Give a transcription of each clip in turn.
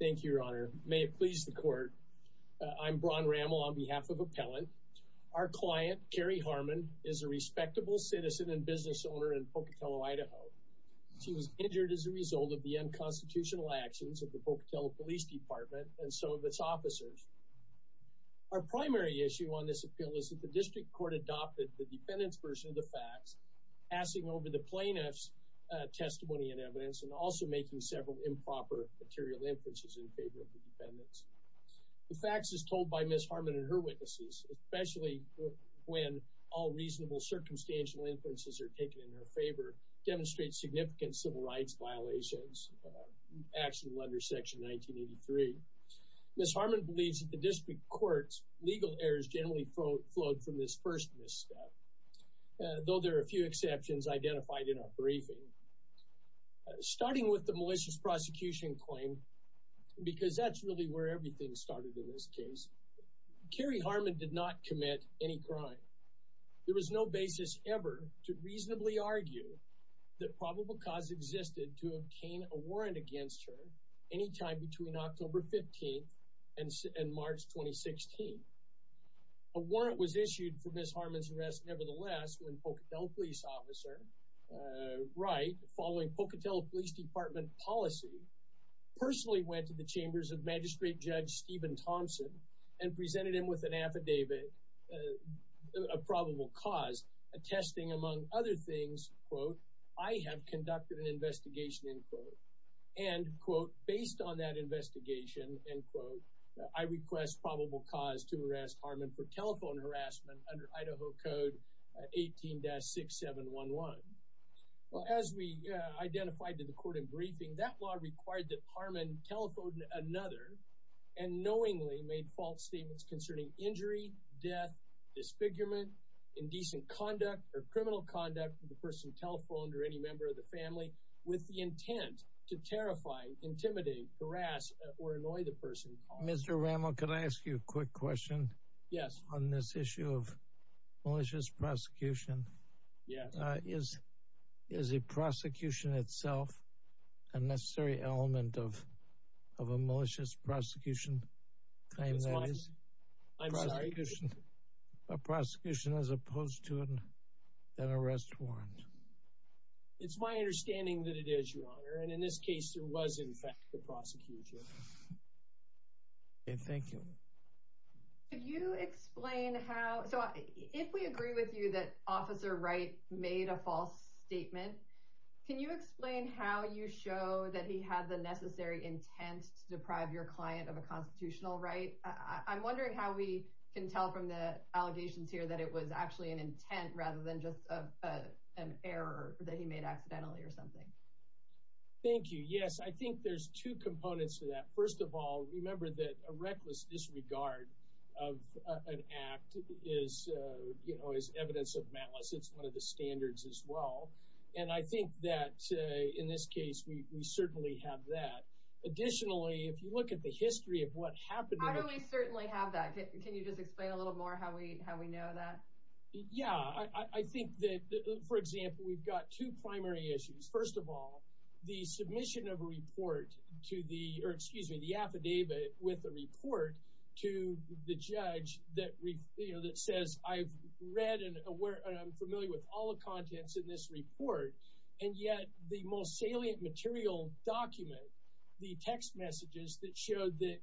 Thank you, your honor. May it please the court. I'm Braun Rammel on behalf of Appellant. Our client, Carrie Harmon, is a respectable citizen and business owner in Pocatello, Idaho. She was injured as a result of the unconstitutional actions of the Pocatello Police Department and some of its officers. Our primary issue on this appeal is that the district court adopted the defendant's version of the facts, passing over the plaintiff's testimony and evidence, and also making several improper material inferences in favor of the defendants. The facts as told by Ms. Harmon and her witnesses, especially when all reasonable circumstantial inferences are taken in her favor, demonstrate significant civil rights violations actionable under Section 1983. Ms. Harmon believes that the district court's legal errors generally flowed from this first misstep, though there are a few exceptions identified in our briefing. Starting with the malicious prosecution claim, because that's really where everything started in this case, Carrie Harmon did not commit any crime. There was no basis ever to reasonably argue that probable cause existed to obtain a warrant against her any time between October 15th and March 2016. A warrant was issued for Ms. Harmon's arrest nevertheless when Pocatello Police Officer Wright, following Pocatello Police Department policy, personally went to the chambers of Magistrate Judge Stephen Thompson and presented him with an affidavit of probable cause, attesting among other things, quote, I have conducted an investigation, end quote. And, quote, based on that investigation, end quote, I request probable cause to arrest Harmon for telephone harassment under Idaho Code 18-6711. Well, as we identified to the court in briefing, that law required that Harmon telephoned another and knowingly made false statements concerning injury, death, disfigurement, indecent conduct or criminal conduct of the person telephoned or any member of the family with the intent to terrify, intimidate, harass or annoy the person. Mr. Ramo, could I ask you a quick question? Yes. On this issue of malicious prosecution, is a prosecution itself a necessary element of a malicious prosecution? I'm sorry? A prosecution as opposed to an arrest warrant? It's my understanding that it is, Your Honor, and in this case there was in fact a If we agree with you that Officer Wright made a false statement, can you explain how you show that he had the necessary intent to deprive your client of a constitutional right? I'm wondering how we can tell from the allegations here that it was actually an intent rather than just an error that he made accidentally or something. Thank you. Yes, I think there's two components to that. First of all, remember that a reckless disregard of an act is, you know, is evidence of malice. It's one of the standards as well, and I think that in this case we certainly have that. Additionally, if you look at the history of what happened... How do we certainly have that? Can you just explain a little more how we know that? Yeah, I think that, for example, we've got two primary issues. First of all, the affidavit with the report to the judge that says, I've read and I'm familiar with all the contents in this report, and yet the most salient material document, the text messages that showed that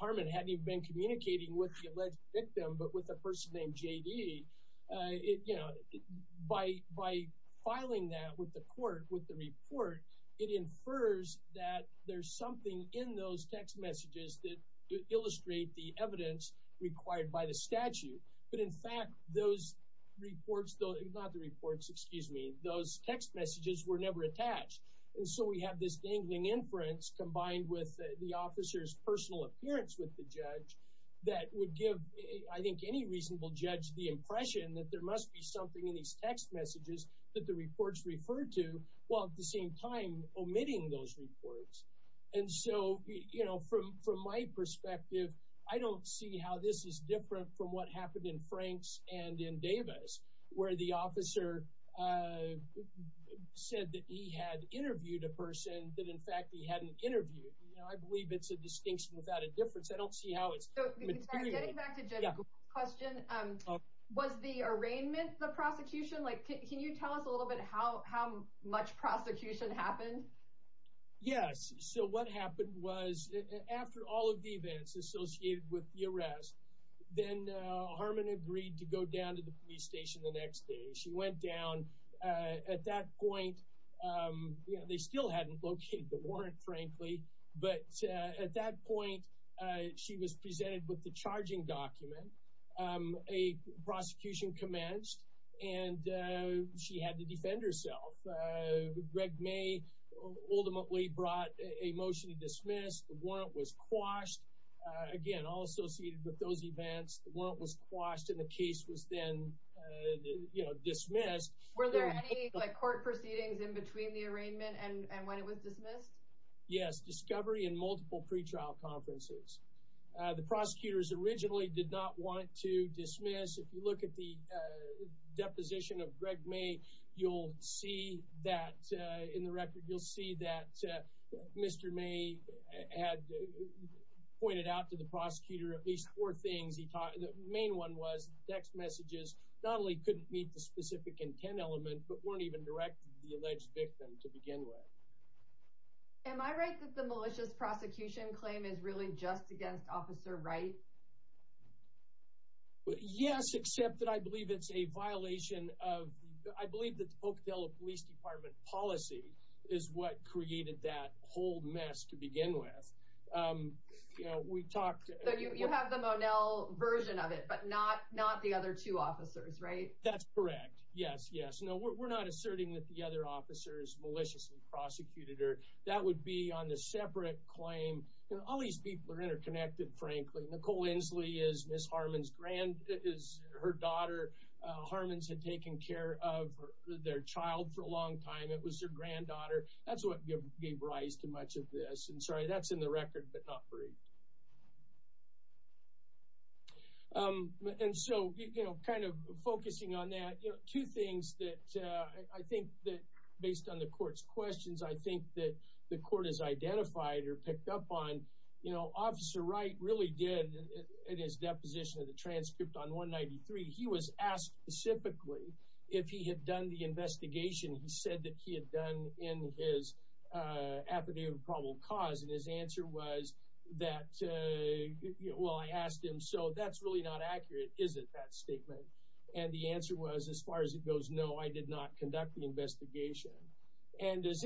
Harmon hadn't even been communicating with the alleged victim but with a person named J.D., by filing that with the court, with the report, it infers that there's something in those text messages that illustrate the evidence required by the statute. But in fact, those reports, not the reports, excuse me, those text messages were never attached. And so we have this dangling inference combined with the officer's personal appearance with the judge that would give, I think, any reasonable judge the impression that there must be something in these text messages that the reports referred to while at the same time omitting those reports. And so, you know, from my perspective, I don't see how this is different from what happened in Frank's and in Davis, where the officer said that he had interviewed a person that, in fact, he hadn't interviewed. You know, I believe it's a distinction without a difference. I don't see how it's material. Getting back to Judge Gould's question, was the arraignment the prosecution? Can you tell us a little bit how much prosecution happened? Yes. So what happened was, after all of the events associated with the arrest, then Harmon agreed to go down to the police station the next day. She went down. At that point, you know, they still hadn't located the warrant, frankly, but at that point, she was presented with the charging document. A prosecution commenced, and she had to defend herself. Greg May ultimately brought a motion to dismiss. The warrant was quashed. Again, all associated with those events, the warrant was quashed, and the case was then, you know, dismissed. Were there any court proceedings in between the arraignment and when it was dismissed? Yes. Discovery and multiple pretrial conferences. The prosecutors originally did not want to dismiss. If you look at the deposition of Greg May, you'll see that, in the record, you'll see that Mr. May had pointed out to the prosecutor at least four things. The main one was text messages not only couldn't meet the specific intent element, but weren't even directed to the alleged victim to begin with. Am I right that the malicious prosecution claim is really just against Officer Wright? Yes, except that I believe it's a violation of, I believe that the Ocadillo Police Department policy is what created that whole mess to begin with. You know, we talked... You have the Monel version of it, but not the other two officers, right? That's correct. Yes, yes. No, we're not asserting that the other officers maliciously prosecuted her. That would be on the separate claim. All these people are interconnected, frankly. Nicole Inslee is Ms. Harmon's granddaughter. Harmon's had taken care of their child for a long time. It was their granddaughter. That's what gave rise to much of this. And sorry, that's in the record, but not briefed. And so, you know, kind of focusing on that, you know, two things that I think that, based on the evidence that I identified or picked up on, you know, Officer Wright really did, in his deposition of the transcript on 193, he was asked specifically if he had done the investigation. He said that he had done in his affidavit of probable cause, and his answer was that, you know, well, I asked him, so that's really not accurate, is it, that statement? And the answer was, as far as it goes, no, I did not conduct the investigation. So, there's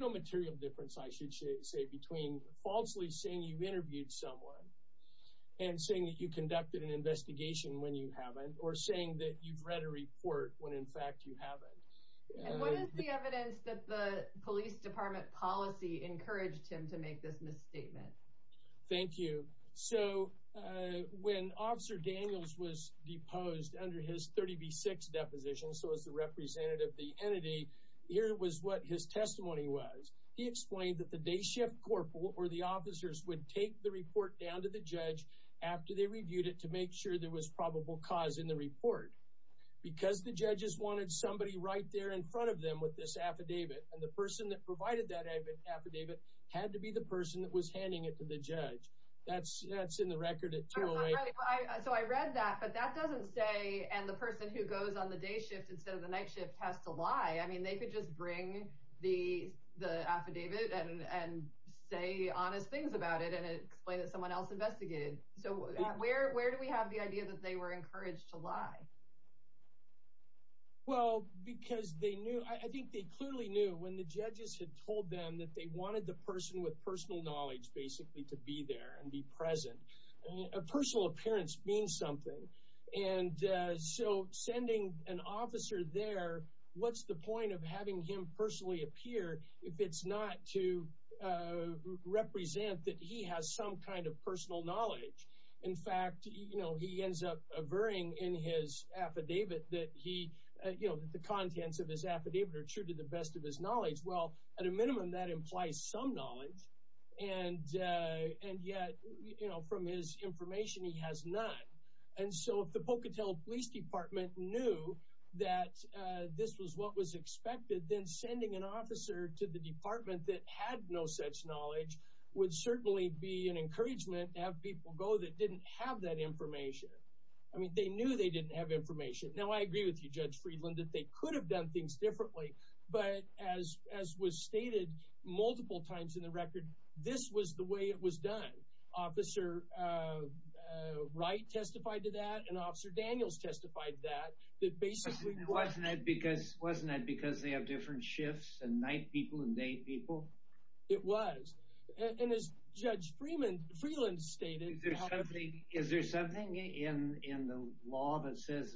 no material difference, I should say, between falsely saying you've interviewed someone and saying that you conducted an investigation when you haven't, or saying that you've read a report when, in fact, you haven't. And what is the evidence that the Police Department policy encouraged him to make this misstatement? Thank you. So, when Officer Daniels was deposed under his 30B6 deposition, so was the representative of the entity, here was what his testimony was. He explained that the day shift corporal, or the officers, would take the report down to the judge after they reviewed it to make sure there was probable cause in the report. Because the judges wanted somebody right there in front of them with this affidavit, and the person that provided that affidavit had to be the person that was handing it to the judge. That's in the record at 2 a.m. So, I read that, but that doesn't say, and the person who goes on the day shift instead of the night shift has to lie. I mean, they could just bring the affidavit and say honest things about it, and explain that someone else investigated. So, where do we have the idea that they were encouraged to lie? Well, because they knew, I think they clearly knew, when the judges had told them that they wanted the person with personal knowledge, basically, to be there and be there. Personal appearance means something. And so, sending an officer there, what's the point of having him personally appear if it's not to represent that he has some kind of personal knowledge? In fact, he ends up averting in his affidavit that the contents of his affidavit are true to the best of his knowledge. Well, at a minimum, that implies some knowledge. And yet, from his information, he has none. And so, if the Pocatello Police Department knew that this was what was expected, then sending an officer to the department that had no such knowledge would certainly be an encouragement to have people go that didn't have that information. I mean, they knew they didn't have information. Now, I agree with you, Judge Friedland, that they could have done things differently, but as was stated multiple times in the record, this was the way it was done. Officer Wright testified to that, and Officer Daniels testified to that. Wasn't it because they have different shifts and night people and day people? It was. And as Judge Friedland stated... Is there something in the law that says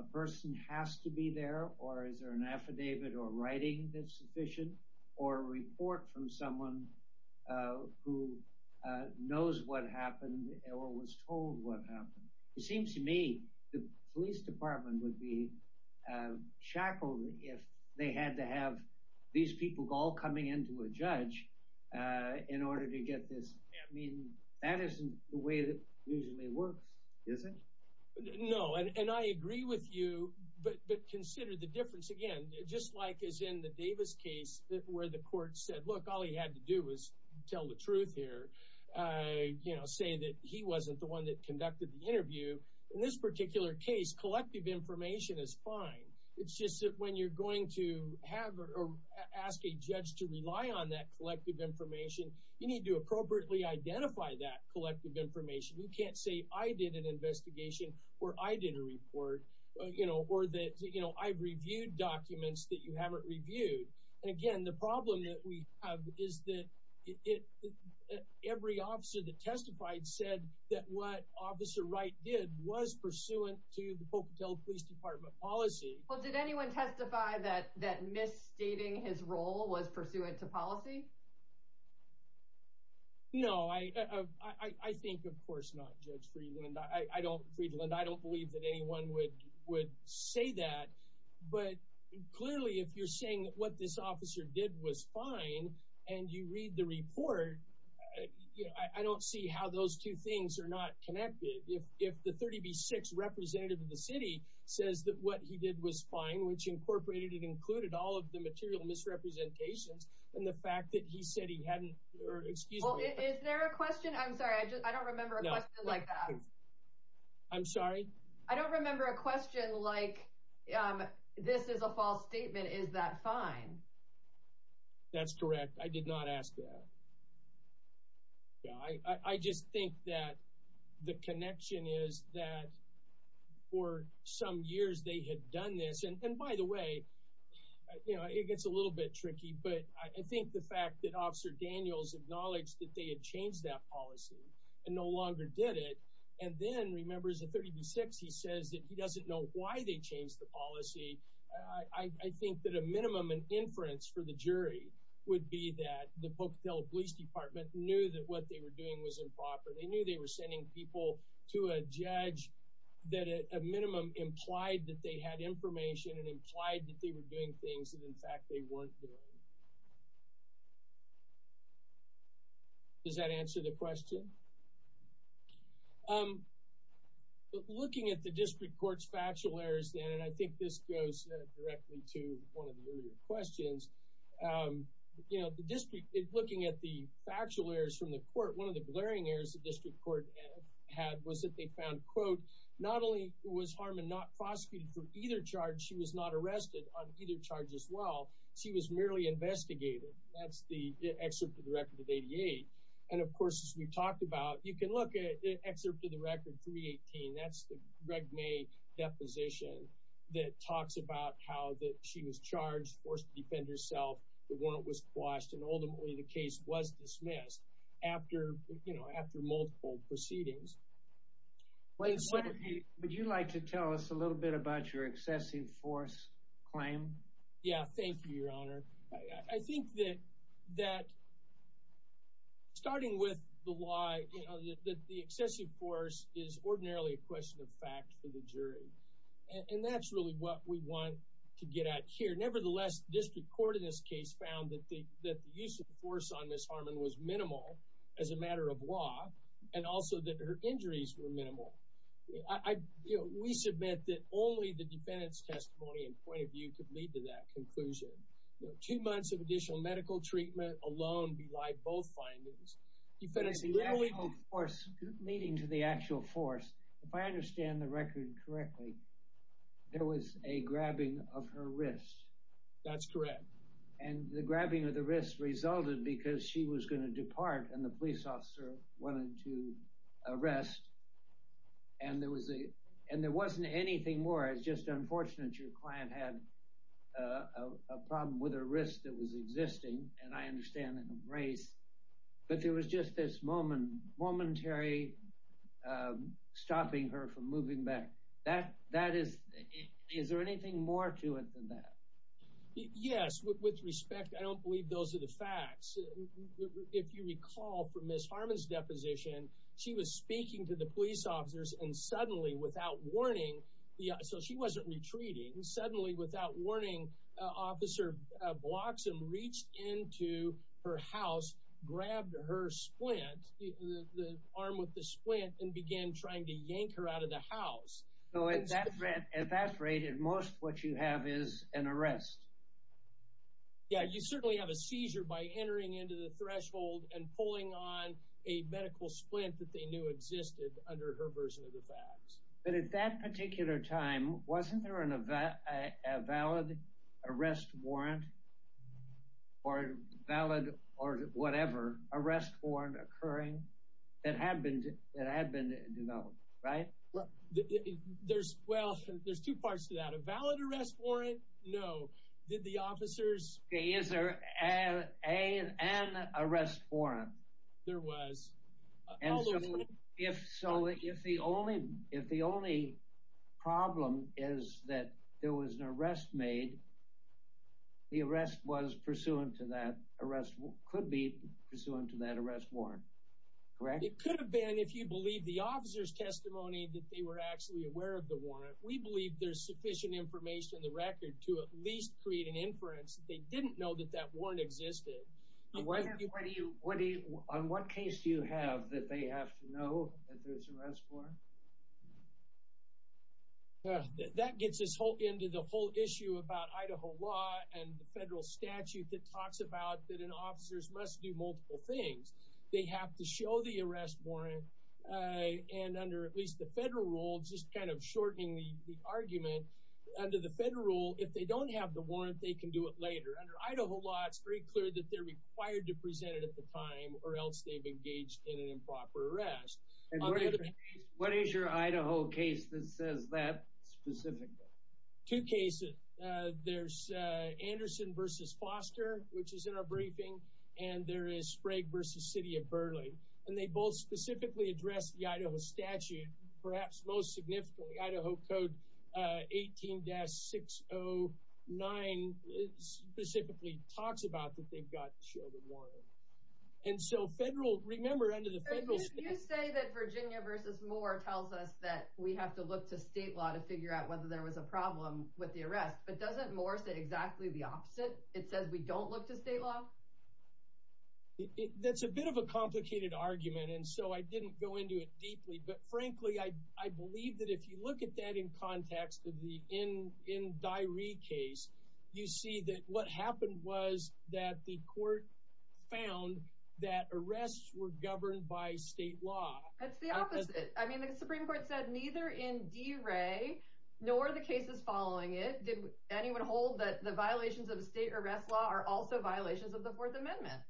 a person has to be there, or is there an affidavit or writing that's sufficient, or a report from someone who knows what happened or was told what happened? It seems to me the police department would be shackled if they had to have these people all coming in to a judge in order to get this. I mean, that isn't the way that usually works, is it? No, and I agree with you, but consider the difference again. Just like as in the Davis case where the court said, look, all he had to do was tell the truth here, say that he wasn't the one that conducted the interview. In this particular case, collective information is fine. It's just that when you're going to have or ask a judge to rely on that collective information, you need to appropriately identify that collective information. You can't say I did an investigation or I did a report, or that I've reviewed documents that you haven't reviewed. And again, the problem that we have is that every officer that testified said that what Officer Wright did was pursuant to the Pocatello Police Department policy. Well, did anyone testify that misstating his role was pursuant to policy? No, I think of course not, Judge Friedland. I don't believe that anyone would say that, but clearly if you're saying that what this officer did was fine, and you read the report, I don't see how those two things are not connected. If the 30B6 representative of the city says that what he did was fine, which incorporated and included all of the material misrepresentations, and the he said he hadn't, or excuse me. Well, is there a question? I'm sorry, I don't remember a question like that. I'm sorry? I don't remember a question like this is a false statement. Is that fine? That's correct. I did not ask that. Yeah, I just think that the connection is that for some years they had done this, and by the way, you know, it gets a little bit tricky, but I think the fact that Officer Daniels acknowledged that they had changed that policy and no longer did it, and then remembers a 30B6, he says that he doesn't know why they changed the policy. I think that a minimum and inference for the jury would be that the Pocatello Police Department knew that what they were doing was improper. They knew they were sending people to a judge that at a minimum implied that they had information and implied that they were doing things that, in fact, they weren't doing. Does that answer the question? Looking at the District Court's factual errors then, and I think this goes directly to one of the earlier questions, you know, the District, looking at the factual errors from the court, one of the glaring errors the District Court had was that they found, quote, not only was she not arrested on either charge as well, she was merely investigated. That's the excerpt of the record of 88, and of course, as we talked about, you can look at excerpt of the record 318. That's the Reg May deposition that talks about how that she was charged, forced to defend herself, the warrant was quashed, and ultimately the case was dismissed after, you know, after multiple proceedings. Would you like to tell us a little bit about your excessive force claim? Yeah, thank you, Your Honor. I think that, starting with the lie that the excessive force is ordinarily a question of fact for the jury, and that's really what we want to get at here. Nevertheless, the District Court in this case found that the use of force on Ms. Harmon was minimal as a matter of law, and also that her injuries were minimal. I, you know, we submit that only the defendant's testimony and point of view could lead to that conclusion. You know, two months of additional medical treatment alone be like both findings. You fed us a really force, leading to the actual force. If I understand the record correctly, there was a grabbing of her wrist. That's correct. And the grabbing of the wrist resulted because she was going to depart and the police officer wanted to arrest, and there was a, and there wasn't anything more. It's just unfortunate your client had a problem with her wrist that was existing, and I understand, a brace. But there was just this moment, momentary stopping her from moving back. That, that is, is there anything more to it than that? Yes, with respect, I don't believe those are the facts. If you recall from Ms. Harmon's deposition, she was speaking to the police officers and suddenly, without warning, yeah, so she wasn't retreating. Suddenly, without warning, Officer Bloxham reached into her house, grabbed her splint, the arm with the splint, and began trying to yank her out of the house. So at that rate, at that rate, at most what you have is an arrest. Yeah, you certainly have a seizure by entering into the threshold and pulling on a medical splint that they knew existed under her version of the facts. But at that particular time, wasn't there an event, a valid arrest warrant, or valid, or whatever, arrest warrant occurring that had been, that had been developed, right? There's, well, there's two parts to that. A valid arrest warrant, no. Did the officers... Is there an arrest warrant? There was. And so, if so, if the only, if the only problem is that there was an arrest made, the arrest was pursuant to that arrest, could be pursuant to that arrest warrant, correct? It could have been, if you believe the officers' testimony that they were actually aware of the warrant. We believe there's sufficient information in the case to at least create an inference that they didn't know that that warrant existed. What do you, what do you, on what case do you have that they have to know that there's an arrest warrant? That gets us into the whole issue about Idaho law and the federal statute that talks about that an officer's must do multiple things. They have to show the arrest warrant, and under at least the federal rule, just kind of shortening the under the federal rule, if they don't have the warrant, they can do it later. Under Idaho law, it's very clear that they're required to present it at the time or else they've engaged in an improper arrest. What is your Idaho case that says that specifically? Two cases. There's Anderson v. Foster, which is in our briefing, and there is Sprague v. City of Burleigh, and they both specifically address the Idaho statute, perhaps most significantly, Idaho Code 18-609 specifically talks about that they've got to show the warrant. And so federal, remember under the federal... You say that Virginia v. Moore tells us that we have to look to state law to figure out whether there was a problem with the arrest, but doesn't Moore say exactly the opposite? It says we don't look to state law? That's a bit of a complicated argument, and so I didn't go into it deeply, but frankly, I believe that if you look at that in context of the N. Dyeri case, you see that what happened was that the court found that arrests were governed by state law. That's the opposite. I mean, the Supreme Court said neither in DeRay nor the cases following it did anyone hold that the violations of state arrest law are also violations of the Fourth Amendment.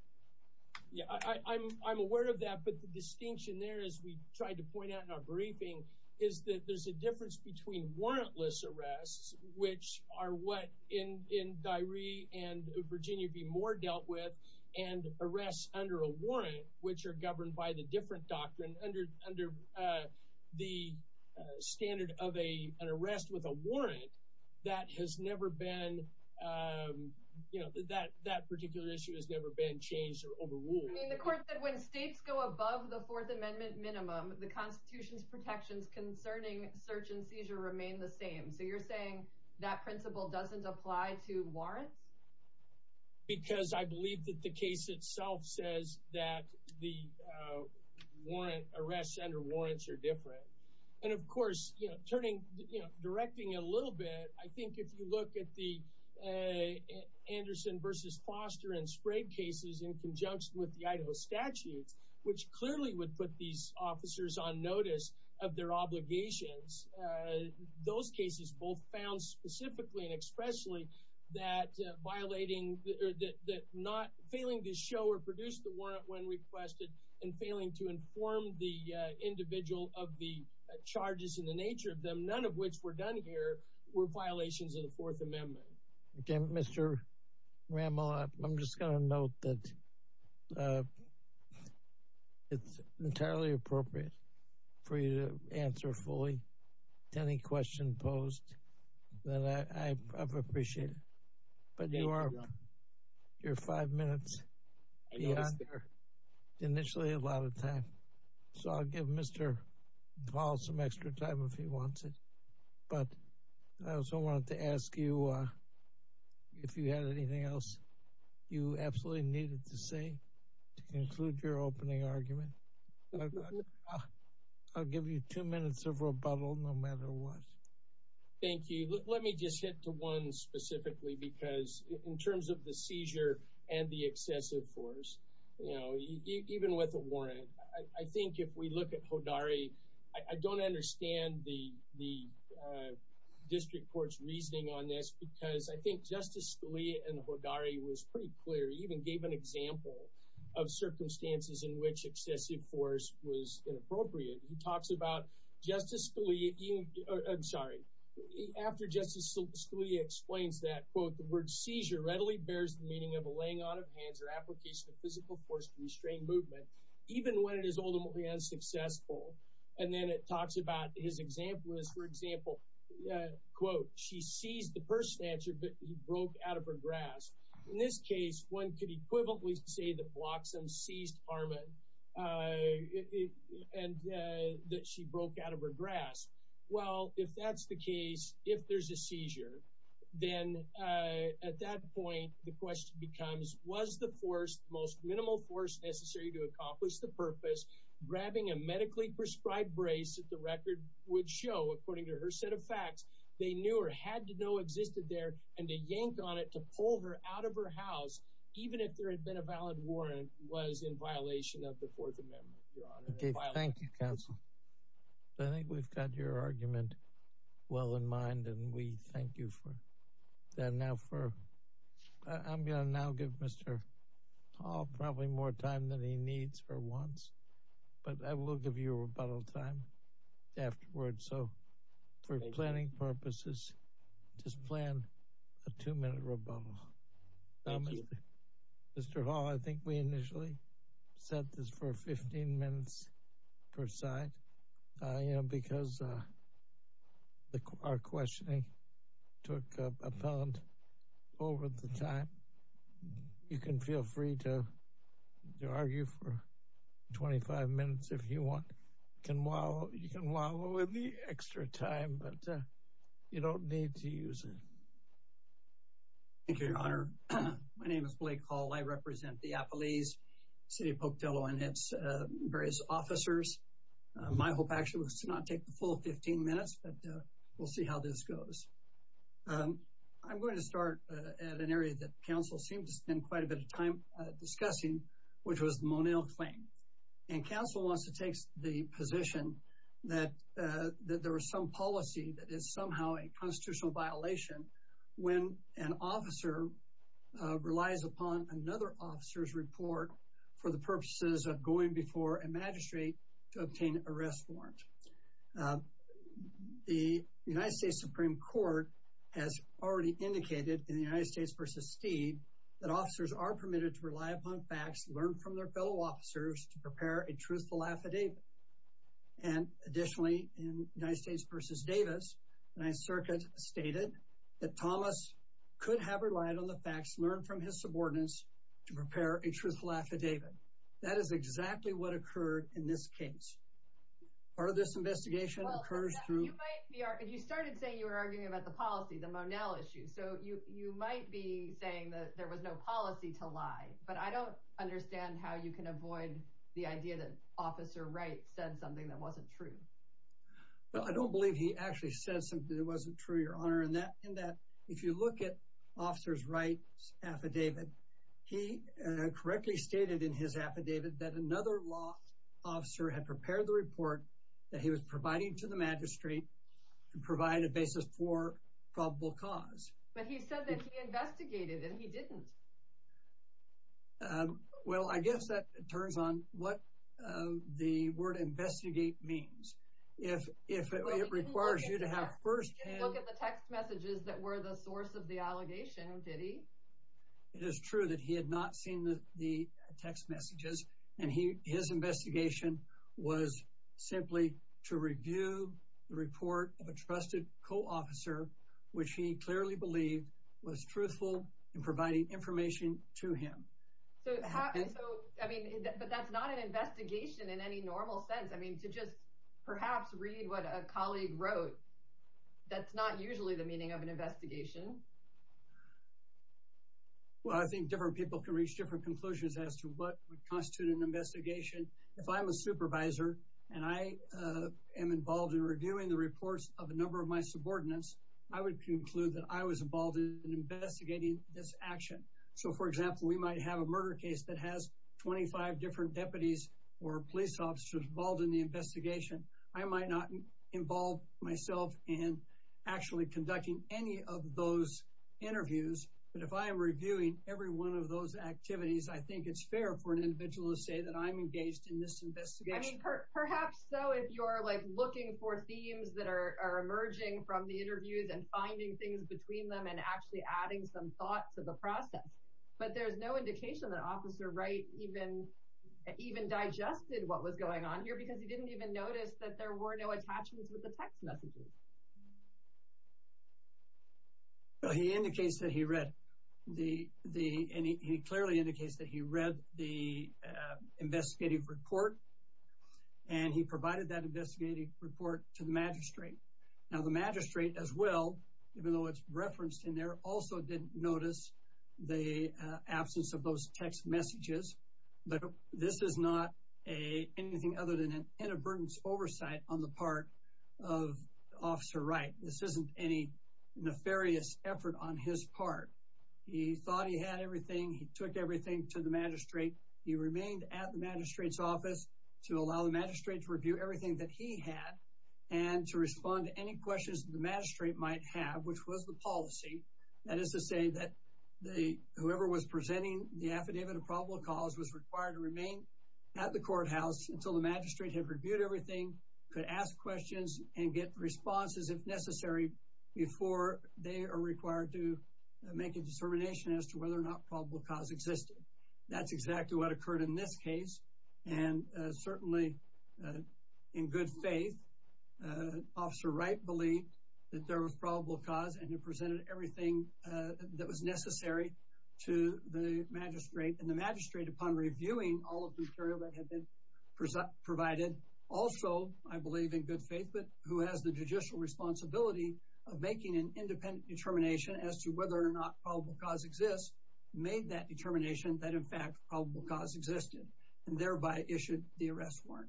Yeah, I'm aware of that, but the distinction there, as we tried to point out in our briefing, is that there's a difference between warrantless arrests, which are what in Dyeri and Virginia v. Moore dealt with, and arrests under a warrant, which are governed by the different doctrine under the standard of an arrest with a warrant that has never been, you know, that that particular issue has never been changed or overruled. The court said when states go above the Fourth Amendment minimum, the Constitution's protections concerning search and seizure remain the same, so you're saying that principle doesn't apply to warrants? Because I believe that the case itself says that the warrant arrests under warrants are different, and of course, you know, directing a little bit, I think if you look at the Anderson v. Foster and Sprague cases in conjunction with the Idaho statutes, which clearly would put these officers on notice of their obligations, those cases both found specifically and expressly that violating, that not failing to show or produce the warrant when requested and failing to inform the charges in the nature of them, none of which were done here, were violations of the Fourth Amendment. Okay, Mr. Rammel, I'm just going to note that it's entirely appropriate for you to answer fully to any question posed that I've appreciated, but you are, you're five minutes, initially a lot of time, so I'll give Mr. DeVos some extra time if he wants it, but I also wanted to ask you if you had anything else you absolutely needed to say to conclude your opening argument. I'll give you two minutes of rebuttal no matter what. Thank you. Let me just hit to one specifically because in terms of the seizure and the excessive force, you even with a warrant, I think if we look at Hodari, I don't understand the district court's reasoning on this because I think Justice Scalia and Hodari was pretty clear, even gave an example of circumstances in which excessive force was inappropriate. He talks about Justice Scalia, I'm sorry, after Justice Scalia explains that, quote, the word seizure readily bears the laying on of hands or application of physical force to restrain movement, even when it is ultimately unsuccessful, and then it talks about his example is, for example, quote, she seized the purse snatcher but he broke out of her grasp. In this case, one could equivalently say that Bloxham seized Harmon and that she broke out of her grasp. Well, if that's the case, if there's a seizure, then at that point, the question becomes, was the force, the most minimal force necessary to accomplish the purpose, grabbing a medically prescribed brace that the record would show, according to her set of facts, they knew or had to know existed there and to yank on it to pull her out of her house, even if there had been a valid warrant, was in violation of the Fourth Amendment, Your Honor. Thank you, counsel. I think we've got your argument well in mind and we thank you for that. Now, I'm gonna now give Mr. Hall probably more time than he needs or wants, but I will give you a rebuttal time afterwards. So, for planning purposes, just plan a two-minute rebuttal. Mr. Hall, I think we initially set this for 15 minutes per side, you know, because our questioning took up a pound over the time. You can feel free to argue for 25 minutes if you want. You can wallow in the extra time, but you don't need to use it. Thank you, Your Honor. My represent the Appalese City of Pocatillo and its various officers. My hope, actually, was to not take the full 15 minutes, but we'll see how this goes. I'm going to start at an area that counsel seemed to spend quite a bit of time discussing, which was the Moneo claim. And counsel wants to take the position that that there was some policy that is somehow a constitutional violation when an officer relies upon another officer's report for the purposes of going before a magistrate to obtain an arrest warrant. The United States Supreme Court has already indicated in the United States v. Steed that officers are permitted to rely upon facts learned from their fellow officers to prepare a truthful affidavit. And additionally, in United States v. Davis, the 9th Circuit stated that Thomas could have relied on the facts learned from his subordinates to prepare a truthful affidavit. That is exactly what occurred in this case. Part of this investigation occurs through... You started saying you were arguing about the policy, the Moneo issue. So you might be saying that there was no policy to lie, but I don't understand how you can avoid the idea that Officer Wright said something that wasn't true. Well, I don't believe he actually said something that wasn't true, Your Honor, in that if you look at Officer Wright's affidavit, he correctly stated in his affidavit that another law officer had prepared the report that he was providing to the magistrate to provide a basis for probable cause. But he said that he investigated, and he didn't. Well, I guess that turns on what the word investigate means. If it requires you to have firsthand... He didn't look at the text messages that were the source of the allegation, did he? It is true that he had not seen the text messages, and his investigation was simply to review the report of a trusted co-officer, which he clearly believed was truthful in providing information to him. But that's not an investigation in any normal sense. I mean, to just perhaps read what a that's not usually the meaning of an investigation. Well, I think different people can reach different conclusions as to what would constitute an investigation. If I'm a supervisor, and I am involved in reviewing the reports of a number of my subordinates, I would conclude that I was involved in investigating this action. So for example, we might have a murder case that has 25 different deputies or police officers involved in the and actually conducting any of those interviews. But if I am reviewing every one of those activities, I think it's fair for an individual to say that I'm engaged in this investigation. Perhaps so if you're like looking for themes that are emerging from the interviews and finding things between them and actually adding some thought to the process. But there's no indication that Officer Wright even digested what was going on here because he didn't even notice that there were no attachments with the text messages. He indicates that he read the any he clearly indicates that he read the investigative report. And he provided that investigative report to the magistrate. Now the magistrate as well, even though it's referenced in there also didn't notice the absence of those text messages. But this is not a anything other than an inadvertence oversight on the part of Officer Wright. This isn't any nefarious effort on his part. He thought he had everything. He took everything to the magistrate. He remained at the magistrate's office to allow the magistrate to review everything that he had and to respond to any questions the magistrate might have, which was the policy. That is to say that the whoever was presenting the affidavit of probable cause was required to remain at the courthouse until the magistrate had reviewed everything, could ask questions and get responses if necessary, before they are required to make a determination as to whether or not probable cause existed. That's exactly what occurred in this case. And certainly, in good faith, Officer Wright believed that there was probable cause and presented everything that was all of the material that had been provided. Also, I believe in good faith, but who has the judicial responsibility of making an independent determination as to whether or not probable cause exists, made that determination that in fact, probable cause existed, and thereby issued the arrest warrant.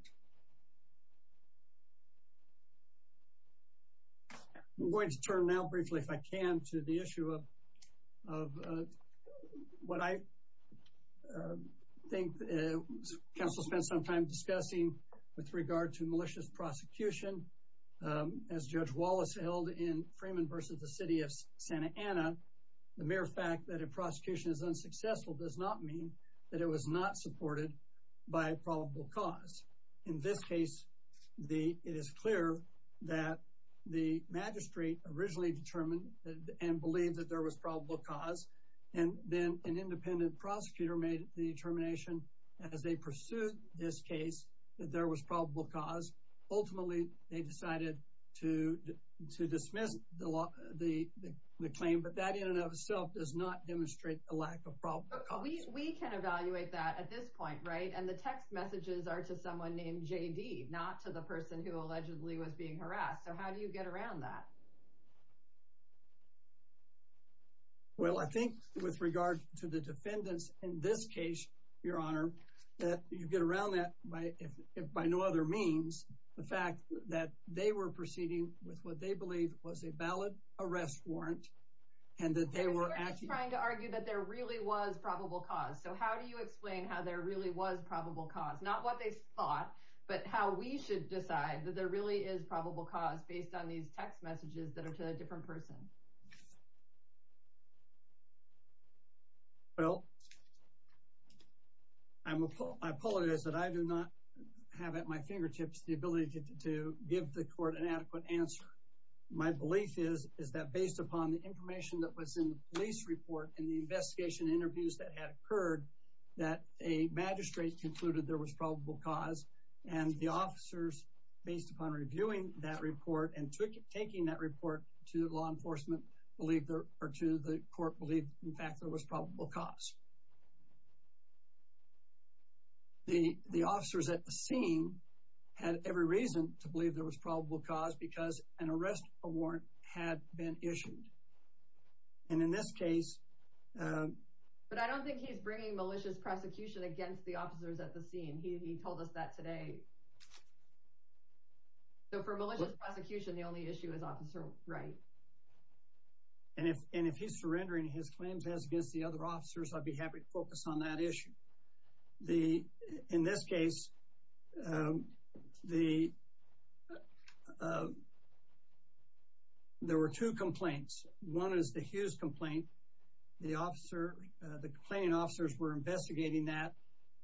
I'm going to turn now, briefly, if I can, to the issue of what I think counsel spent some time discussing with regard to malicious prosecution. As Judge Wallace held in Freeman v. The City of Santa Ana, the mere fact that a prosecution is unsuccessful does not mean that it was not supported by probable cause. In this case, it is clear that the magistrate originally determined and believed that there was probable cause, and then an independent prosecutor made the determination as they pursued this case that there was probable cause. Ultimately, they decided to dismiss the claim, but that in and of itself does not demonstrate a lack of probable cause. We can evaluate that at this point, right? And the text messages are to someone named JD, not to the person who allegedly was being harassed. So how do you get around that? Well, I think with regard to the defendants in this case, Your Honor, that you get around that by no other means. The fact that they were proceeding with what they believe was a valid arrest warrant, and that they were actually trying to argue that there really was probable cause. So how do you explain how there really was probable cause? Not what they thought, but how we should decide that there really is probable cause based on these text messages that are to a different person. Well, I'm appalled, I apologize that I do not have at my fingertips the ability to give the court an adequate answer. My belief is, is that based upon the information that was in the police report and the investigation interviews that had occurred, that a magistrate concluded there was probable cause. And the officers, based upon reviewing that report and taking that report to law enforcement, believe there, or to the court, believe, in fact, there was probable cause. The officers at the scene had every reason to believe there was probable cause because an arrest warrant had been issued. And in this case... But I don't think he's bringing malicious prosecution against the officers at the scene. He told us that today. So for malicious prosecution, the only issue is Officer Wright. And if he's surrendering his claims as against the other officers, I'd be happy to focus on that issue. In this case, there were two complaints. One is the Hughes complaint. The complaining officers were investigating that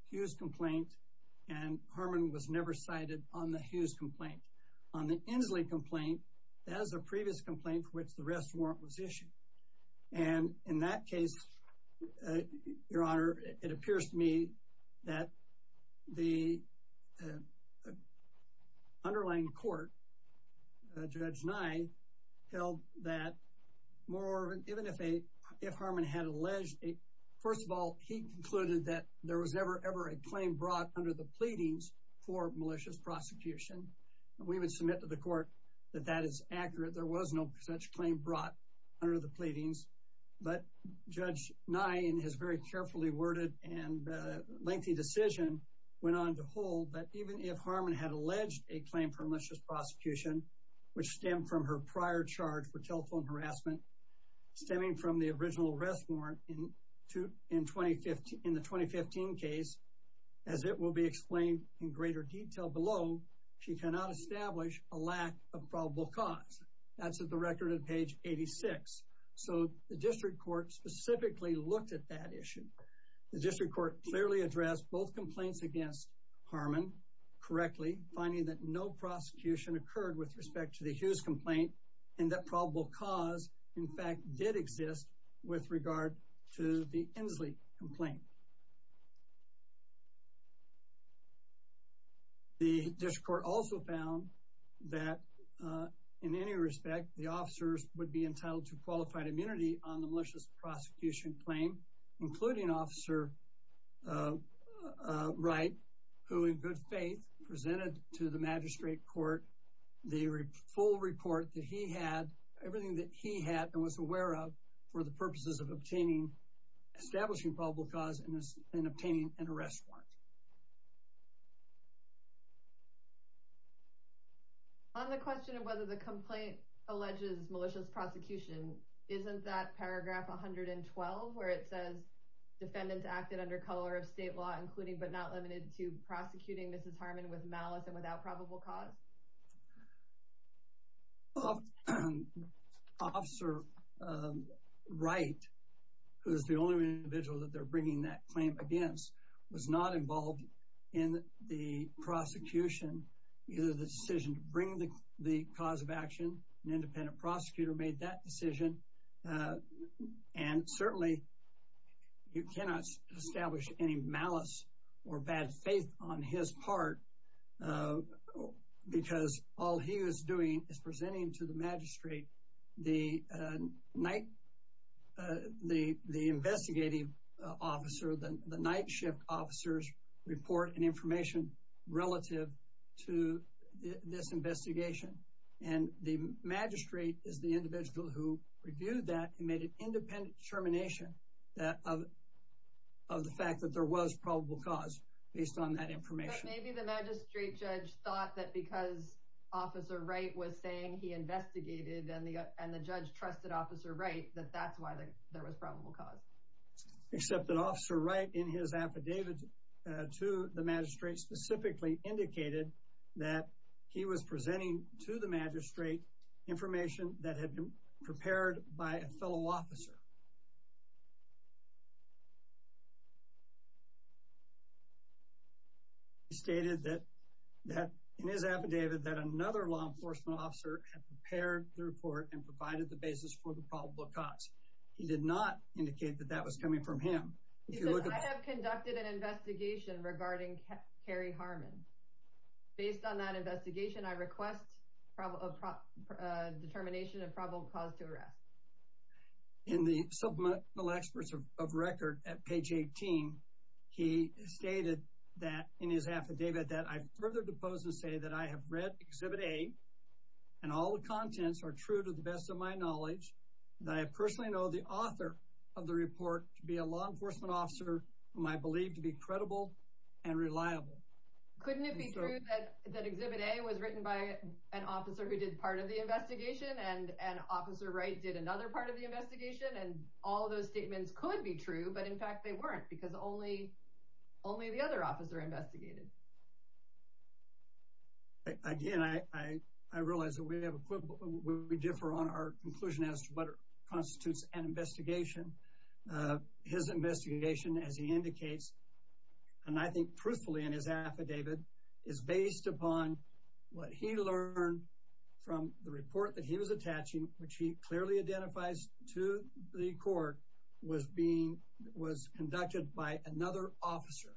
Hughes complaint, and Harmon was never cited on the Hughes complaint. On the Inslee complaint, that is a previous complaint for which the arrest warrant was issued. And in that case, Your Honor, it appears to me that the underlying court, Judge Nye, held that, moreover, even if Harmon had alleged... First of all, he concluded that there was never, ever a claim brought under the pleadings for malicious prosecution. We would submit to the court that that is accurate. There was no such claim brought under the lengthy decision went on to hold that even if Harmon had alleged a claim for malicious prosecution, which stemmed from her prior charge for telephone harassment, stemming from the original arrest warrant in the 2015 case, as it will be explained in greater detail below, she cannot establish a lack of probable cause. That's at the record on page 86. So the district court specifically looked at that issue. The district court clearly addressed both complaints against Harmon correctly, finding that no prosecution occurred with respect to the Hughes complaint, and that probable cause, in fact, did exist with regard to the Inslee complaint. The district court also found that in any respect, the officers would be entitled to qualified immunity on the malicious prosecution claim, including Officer Wright, who in good faith presented to the magistrate court the full report that he had, everything that he had and was aware of for the purposes of obtaining, establishing probable cause and obtaining an arrest warrant. On the question of whether the complaint alleges malicious prosecution, isn't that paragraph 112, where it says defendants acted under color of state law, including but not limited to prosecuting Mrs. Harmon with malice and without probable cause? Officer Wright, who's the only individual that they're bringing that claim against, was not involved in the prosecution, either the decision to bring the cause of action an independent prosecutor made that decision. And certainly, you cannot establish any malice or bad faith on his part, because all he is doing is presenting to the magistrate the night, the investigative officer, the night shift officers' report and information relative to this investigation. And the magistrate is the individual who reviewed that and made an independent determination of the fact that there was probable cause based on that information. But maybe the magistrate judge thought that because Officer Wright was saying he investigated and the judge trusted Officer Wright, that that's why there was probable cause. Except that Officer Wright, in his affidavit to the magistrate, specifically indicated that he was presenting to the magistrate information that had been prepared by a fellow officer. He stated that, in his affidavit, that another law enforcement officer had prepared the report and provided the basis for the probable cause. He did not indicate that that was coming from him. He said, I have conducted an investigation regarding Carrie Harmon. Based on that investigation, I request a determination of probable cause to arrest. In the Supplemental Experts of Record, at page 18, he stated that, in his affidavit, that I further depose to say that I have read Exhibit A, and all the contents are true to the best of my knowledge, that I personally know the author of the report to be a law enforcement officer whom I believe to be credible and reliable. Couldn't it be true that Exhibit A was written by an officer who did part of the investigation, and Officer Wright did another part of the investigation? And all those statements could be true, but in fact, they weren't, because only only the other officer investigated. Again, I realize that we have a quibble. We differ on our conclusion as to what constitutes an investigation. His investigation, as he indicates, and I believe in his affidavit, is based upon what he learned from the report that he was attaching, which he clearly identifies to the court, was being, was conducted by another officer,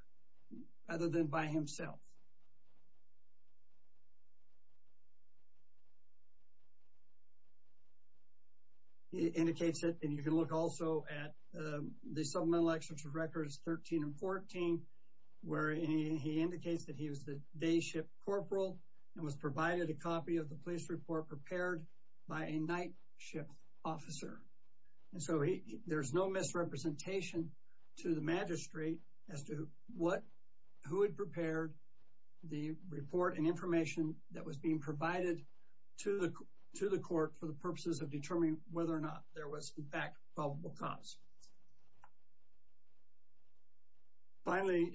rather than by himself. He indicates it, and you can look also at the Supplemental Experts of Records 13 and 14, where he indicates that he was the day-ship corporal and was provided a copy of the police report prepared by a night-ship officer. And so, there's no misrepresentation to the magistrate as to what, who had prepared the report and information that was being provided to the court for the purposes of determining whether or not there was, in fact, probable cause. Finally,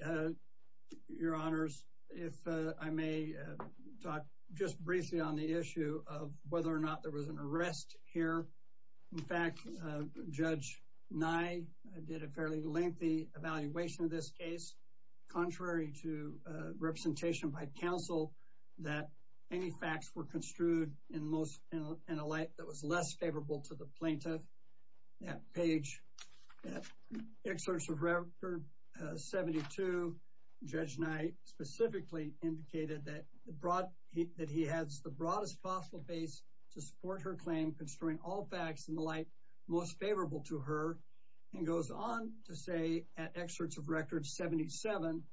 Your Honors, if I may talk just briefly on the issue of whether or not there was an arrest here. In fact, Judge Nye did a fairly lengthy evaluation of this case, contrary to representation by counsel, that any facts were construed in most, in a light that was less favorable to the plaintiff. That page, that excerpt of Record 72, Judge Nye specifically indicated that the broad, that he has the broadest possible base to support her claim, construing all facts in the light most favorable to her, and goes on to say, at excerpts of Record 77,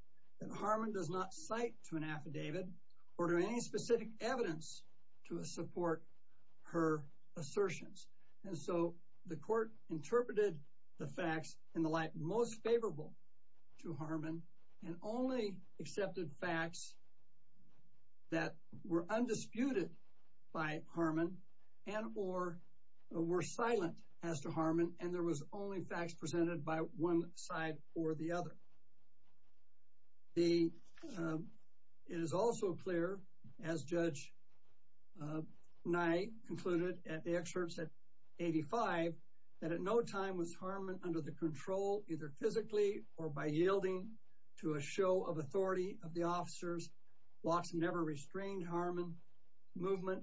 that Harmon does not cite to an affidavit or to any specific evidence to support her It is also clear, as Judge Nye concluded at the excerpts at 85, that at no time was physically or by yielding to a show of authority of the officers, Watson never restrained Harmon's movement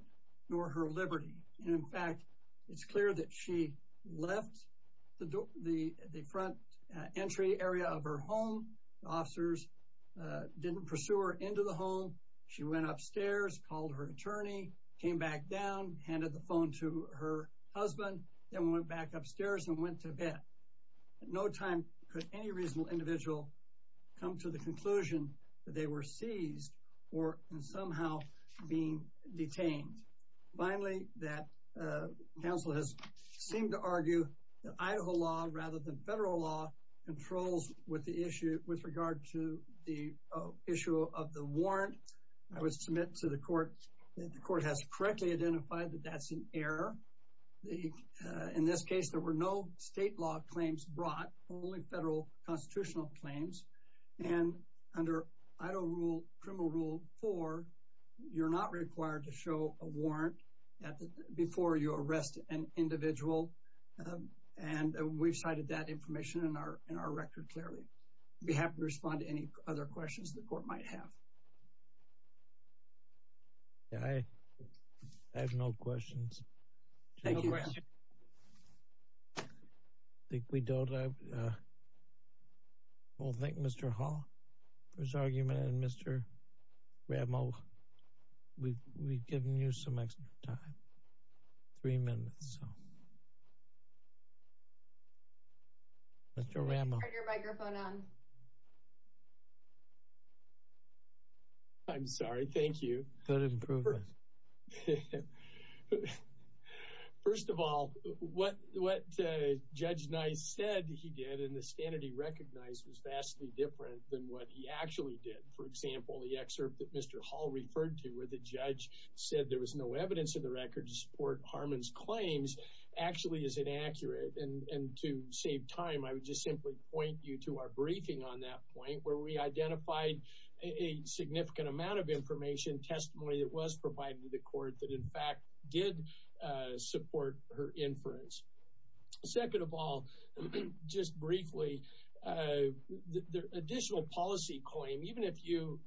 nor her liberty. And in fact, it's clear that she left the front entry area of her home. The officers didn't pursue her into the home. She went upstairs, called her attorney, came back down, handed the phone to her husband, then went back upstairs and went to bed. At no time could any reasonable individual come to the conclusion that they were seized or somehow being detained. Finally, that counsel has seemed to argue that Idaho law, rather than federal law, controls with the issue, with regard to the issue of the warrant. I would submit to the court that the court has correctly identified that that's an error. In this case, there were no state law claims brought, only federal constitutional claims. And under Idaho rule, Criminal Rule 4, you're not required to show a warrant before you arrest an individual. And we've cited that information in our record clearly. I'd be happy to respond to any other questions the court might have. I have no questions. I think we don't. I will thank Mr. Hall for his argument. And Mr. Ramo, we've given you some extra time. Three minutes, so. Mr. Ramo. Turn your microphone on. I'm sorry. Thank you. Go ahead and prove it. First of all, what Judge Nice said he did and the standard he recognized was vastly different than what he actually did. For example, the excerpt that Mr. Hall referred to, where the judge said there was no evidence in the record to support Harmon's claims, actually is inaccurate. And to save time, I would simply point you to our briefing on that point, where we identified a significant amount of information, testimony that was provided to the court that, in fact, did support her inference. Second of all, just briefly, the additional policy claim, even if you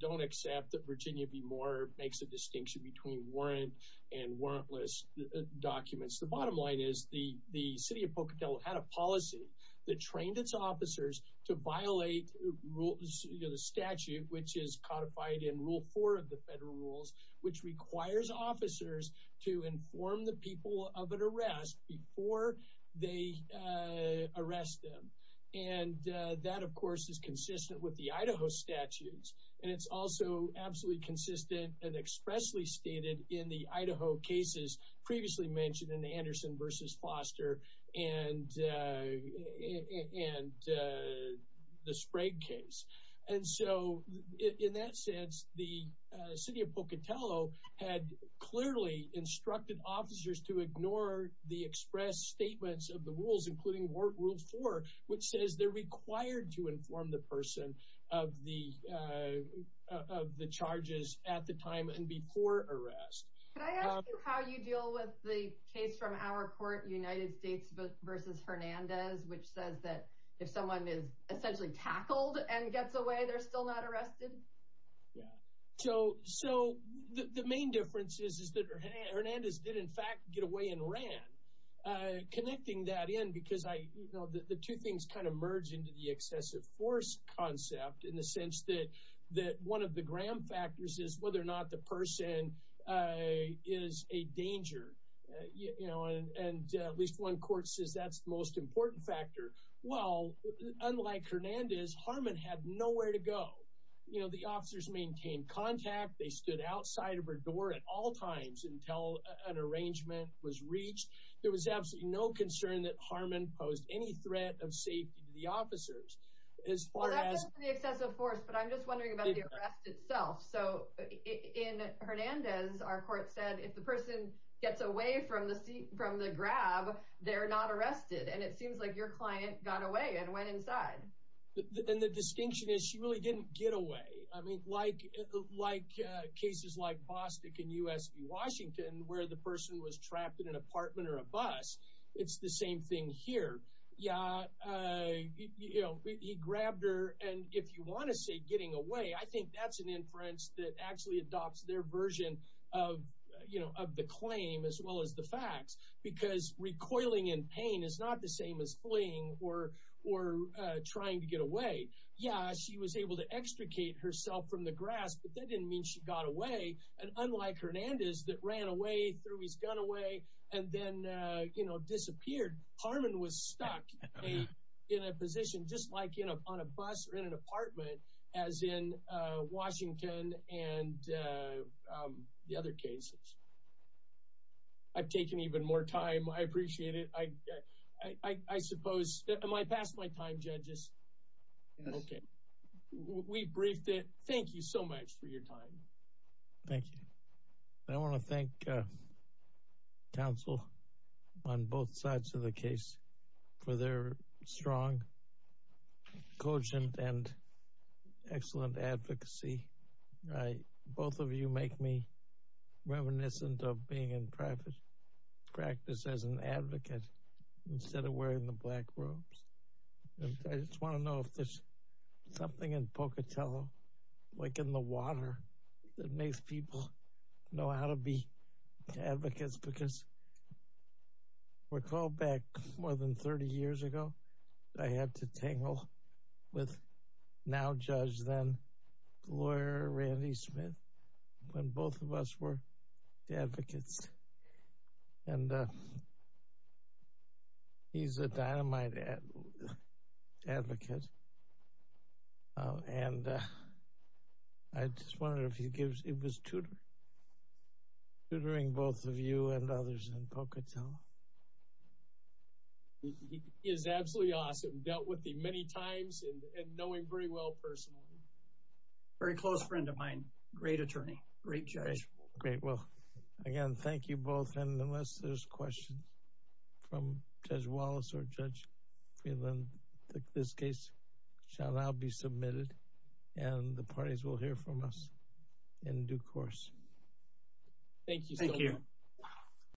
don't accept that Virginia v. Moore makes a distinction between warrant and warrantless documents, the bottom line is the city of Pocatello had a policy that trained its officers to violate the statute, which is codified in Rule 4 of the federal rules, which requires officers to inform the people of an arrest before they arrest them. And that, of course, is consistent with the Idaho statutes. And it's also absolutely consistent and expressly stated in the Idaho cases previously mentioned in Anderson v. Foster and the Sprague case. And so, in that sense, the city of Pocatello had clearly instructed officers to ignore the express statements of the rules, including Rule 4, which says they're required to inform the person of the charges at the time and before arrest. Can I ask you how you deal with the case from our court, United States v. Hernandez, which says that if someone is essentially tackled and gets away, they're still not arrested? Yeah. So, the main difference is that Hernandez did, in fact, get away and ran. Connecting that in, because the two things kind of merge into the excessive force concept, in the sense that one of the gram factors is whether or not the person is a danger. And at least one court says that's the most important factor. Well, unlike Hernandez, Harmon had nowhere to go. The officers maintained contact. They stood outside of her door at all times until an arrangement was reached. There was absolutely no concern that Harmon posed any threat of safety to the officers. Well, that's not the excessive force, but I'm just wondering about the arrest itself. So, in Hernandez, our court said if the person gets away from the grab, they're not arrested. And it seems like your client got away and went inside. And the distinction is she really didn't get away. I mean, like cases like Bostick and U.S. v. Washington, where the person was trapped in an apartment or a bus, it's the same thing here. He grabbed her. And if you want to say getting away, I think that's an inference that actually adopts their version of the claim as well as the facts. Because recoiling in pain is not the same as fleeing or trying to get away. Yeah, she was able to extricate herself from the grasp, but that didn't mean she got away. And unlike Hernandez that ran away, threw his gun away and then disappeared, Harmon was stuck in a position just like on a bus or in an Washington and the other cases. I've taken even more time. I appreciate it. I suppose—am I past my time, judges? Yes. Okay, we briefed it. Thank you so much for your time. Thank you. I want to thank counsel on both sides of the case for their strong, cogent, and excellent advocacy. Both of you make me reminiscent of being in private practice as an advocate instead of wearing the black robes. I just want to know if there's something in Pocatello, like in the water, that makes people know how to be advocates? Because I recall back more than 30 years ago, I had to tangle with now-judge, then-lawyer Randy Smith, when both of us were advocates. Yes. And he's a dynamite advocate. And I just wonder if he gives—it was tutoring, tutoring both of you and others in Pocatello. He is absolutely awesome. Dealt with me many times and knowing very well personally. Very close friend of mine. Great attorney. Great judge. Great. Well, again, thank you both. And unless there's questions from Judge Wallace or Judge Friedland, this case shall now be submitted and the parties will hear from us in due course. Thank you so much.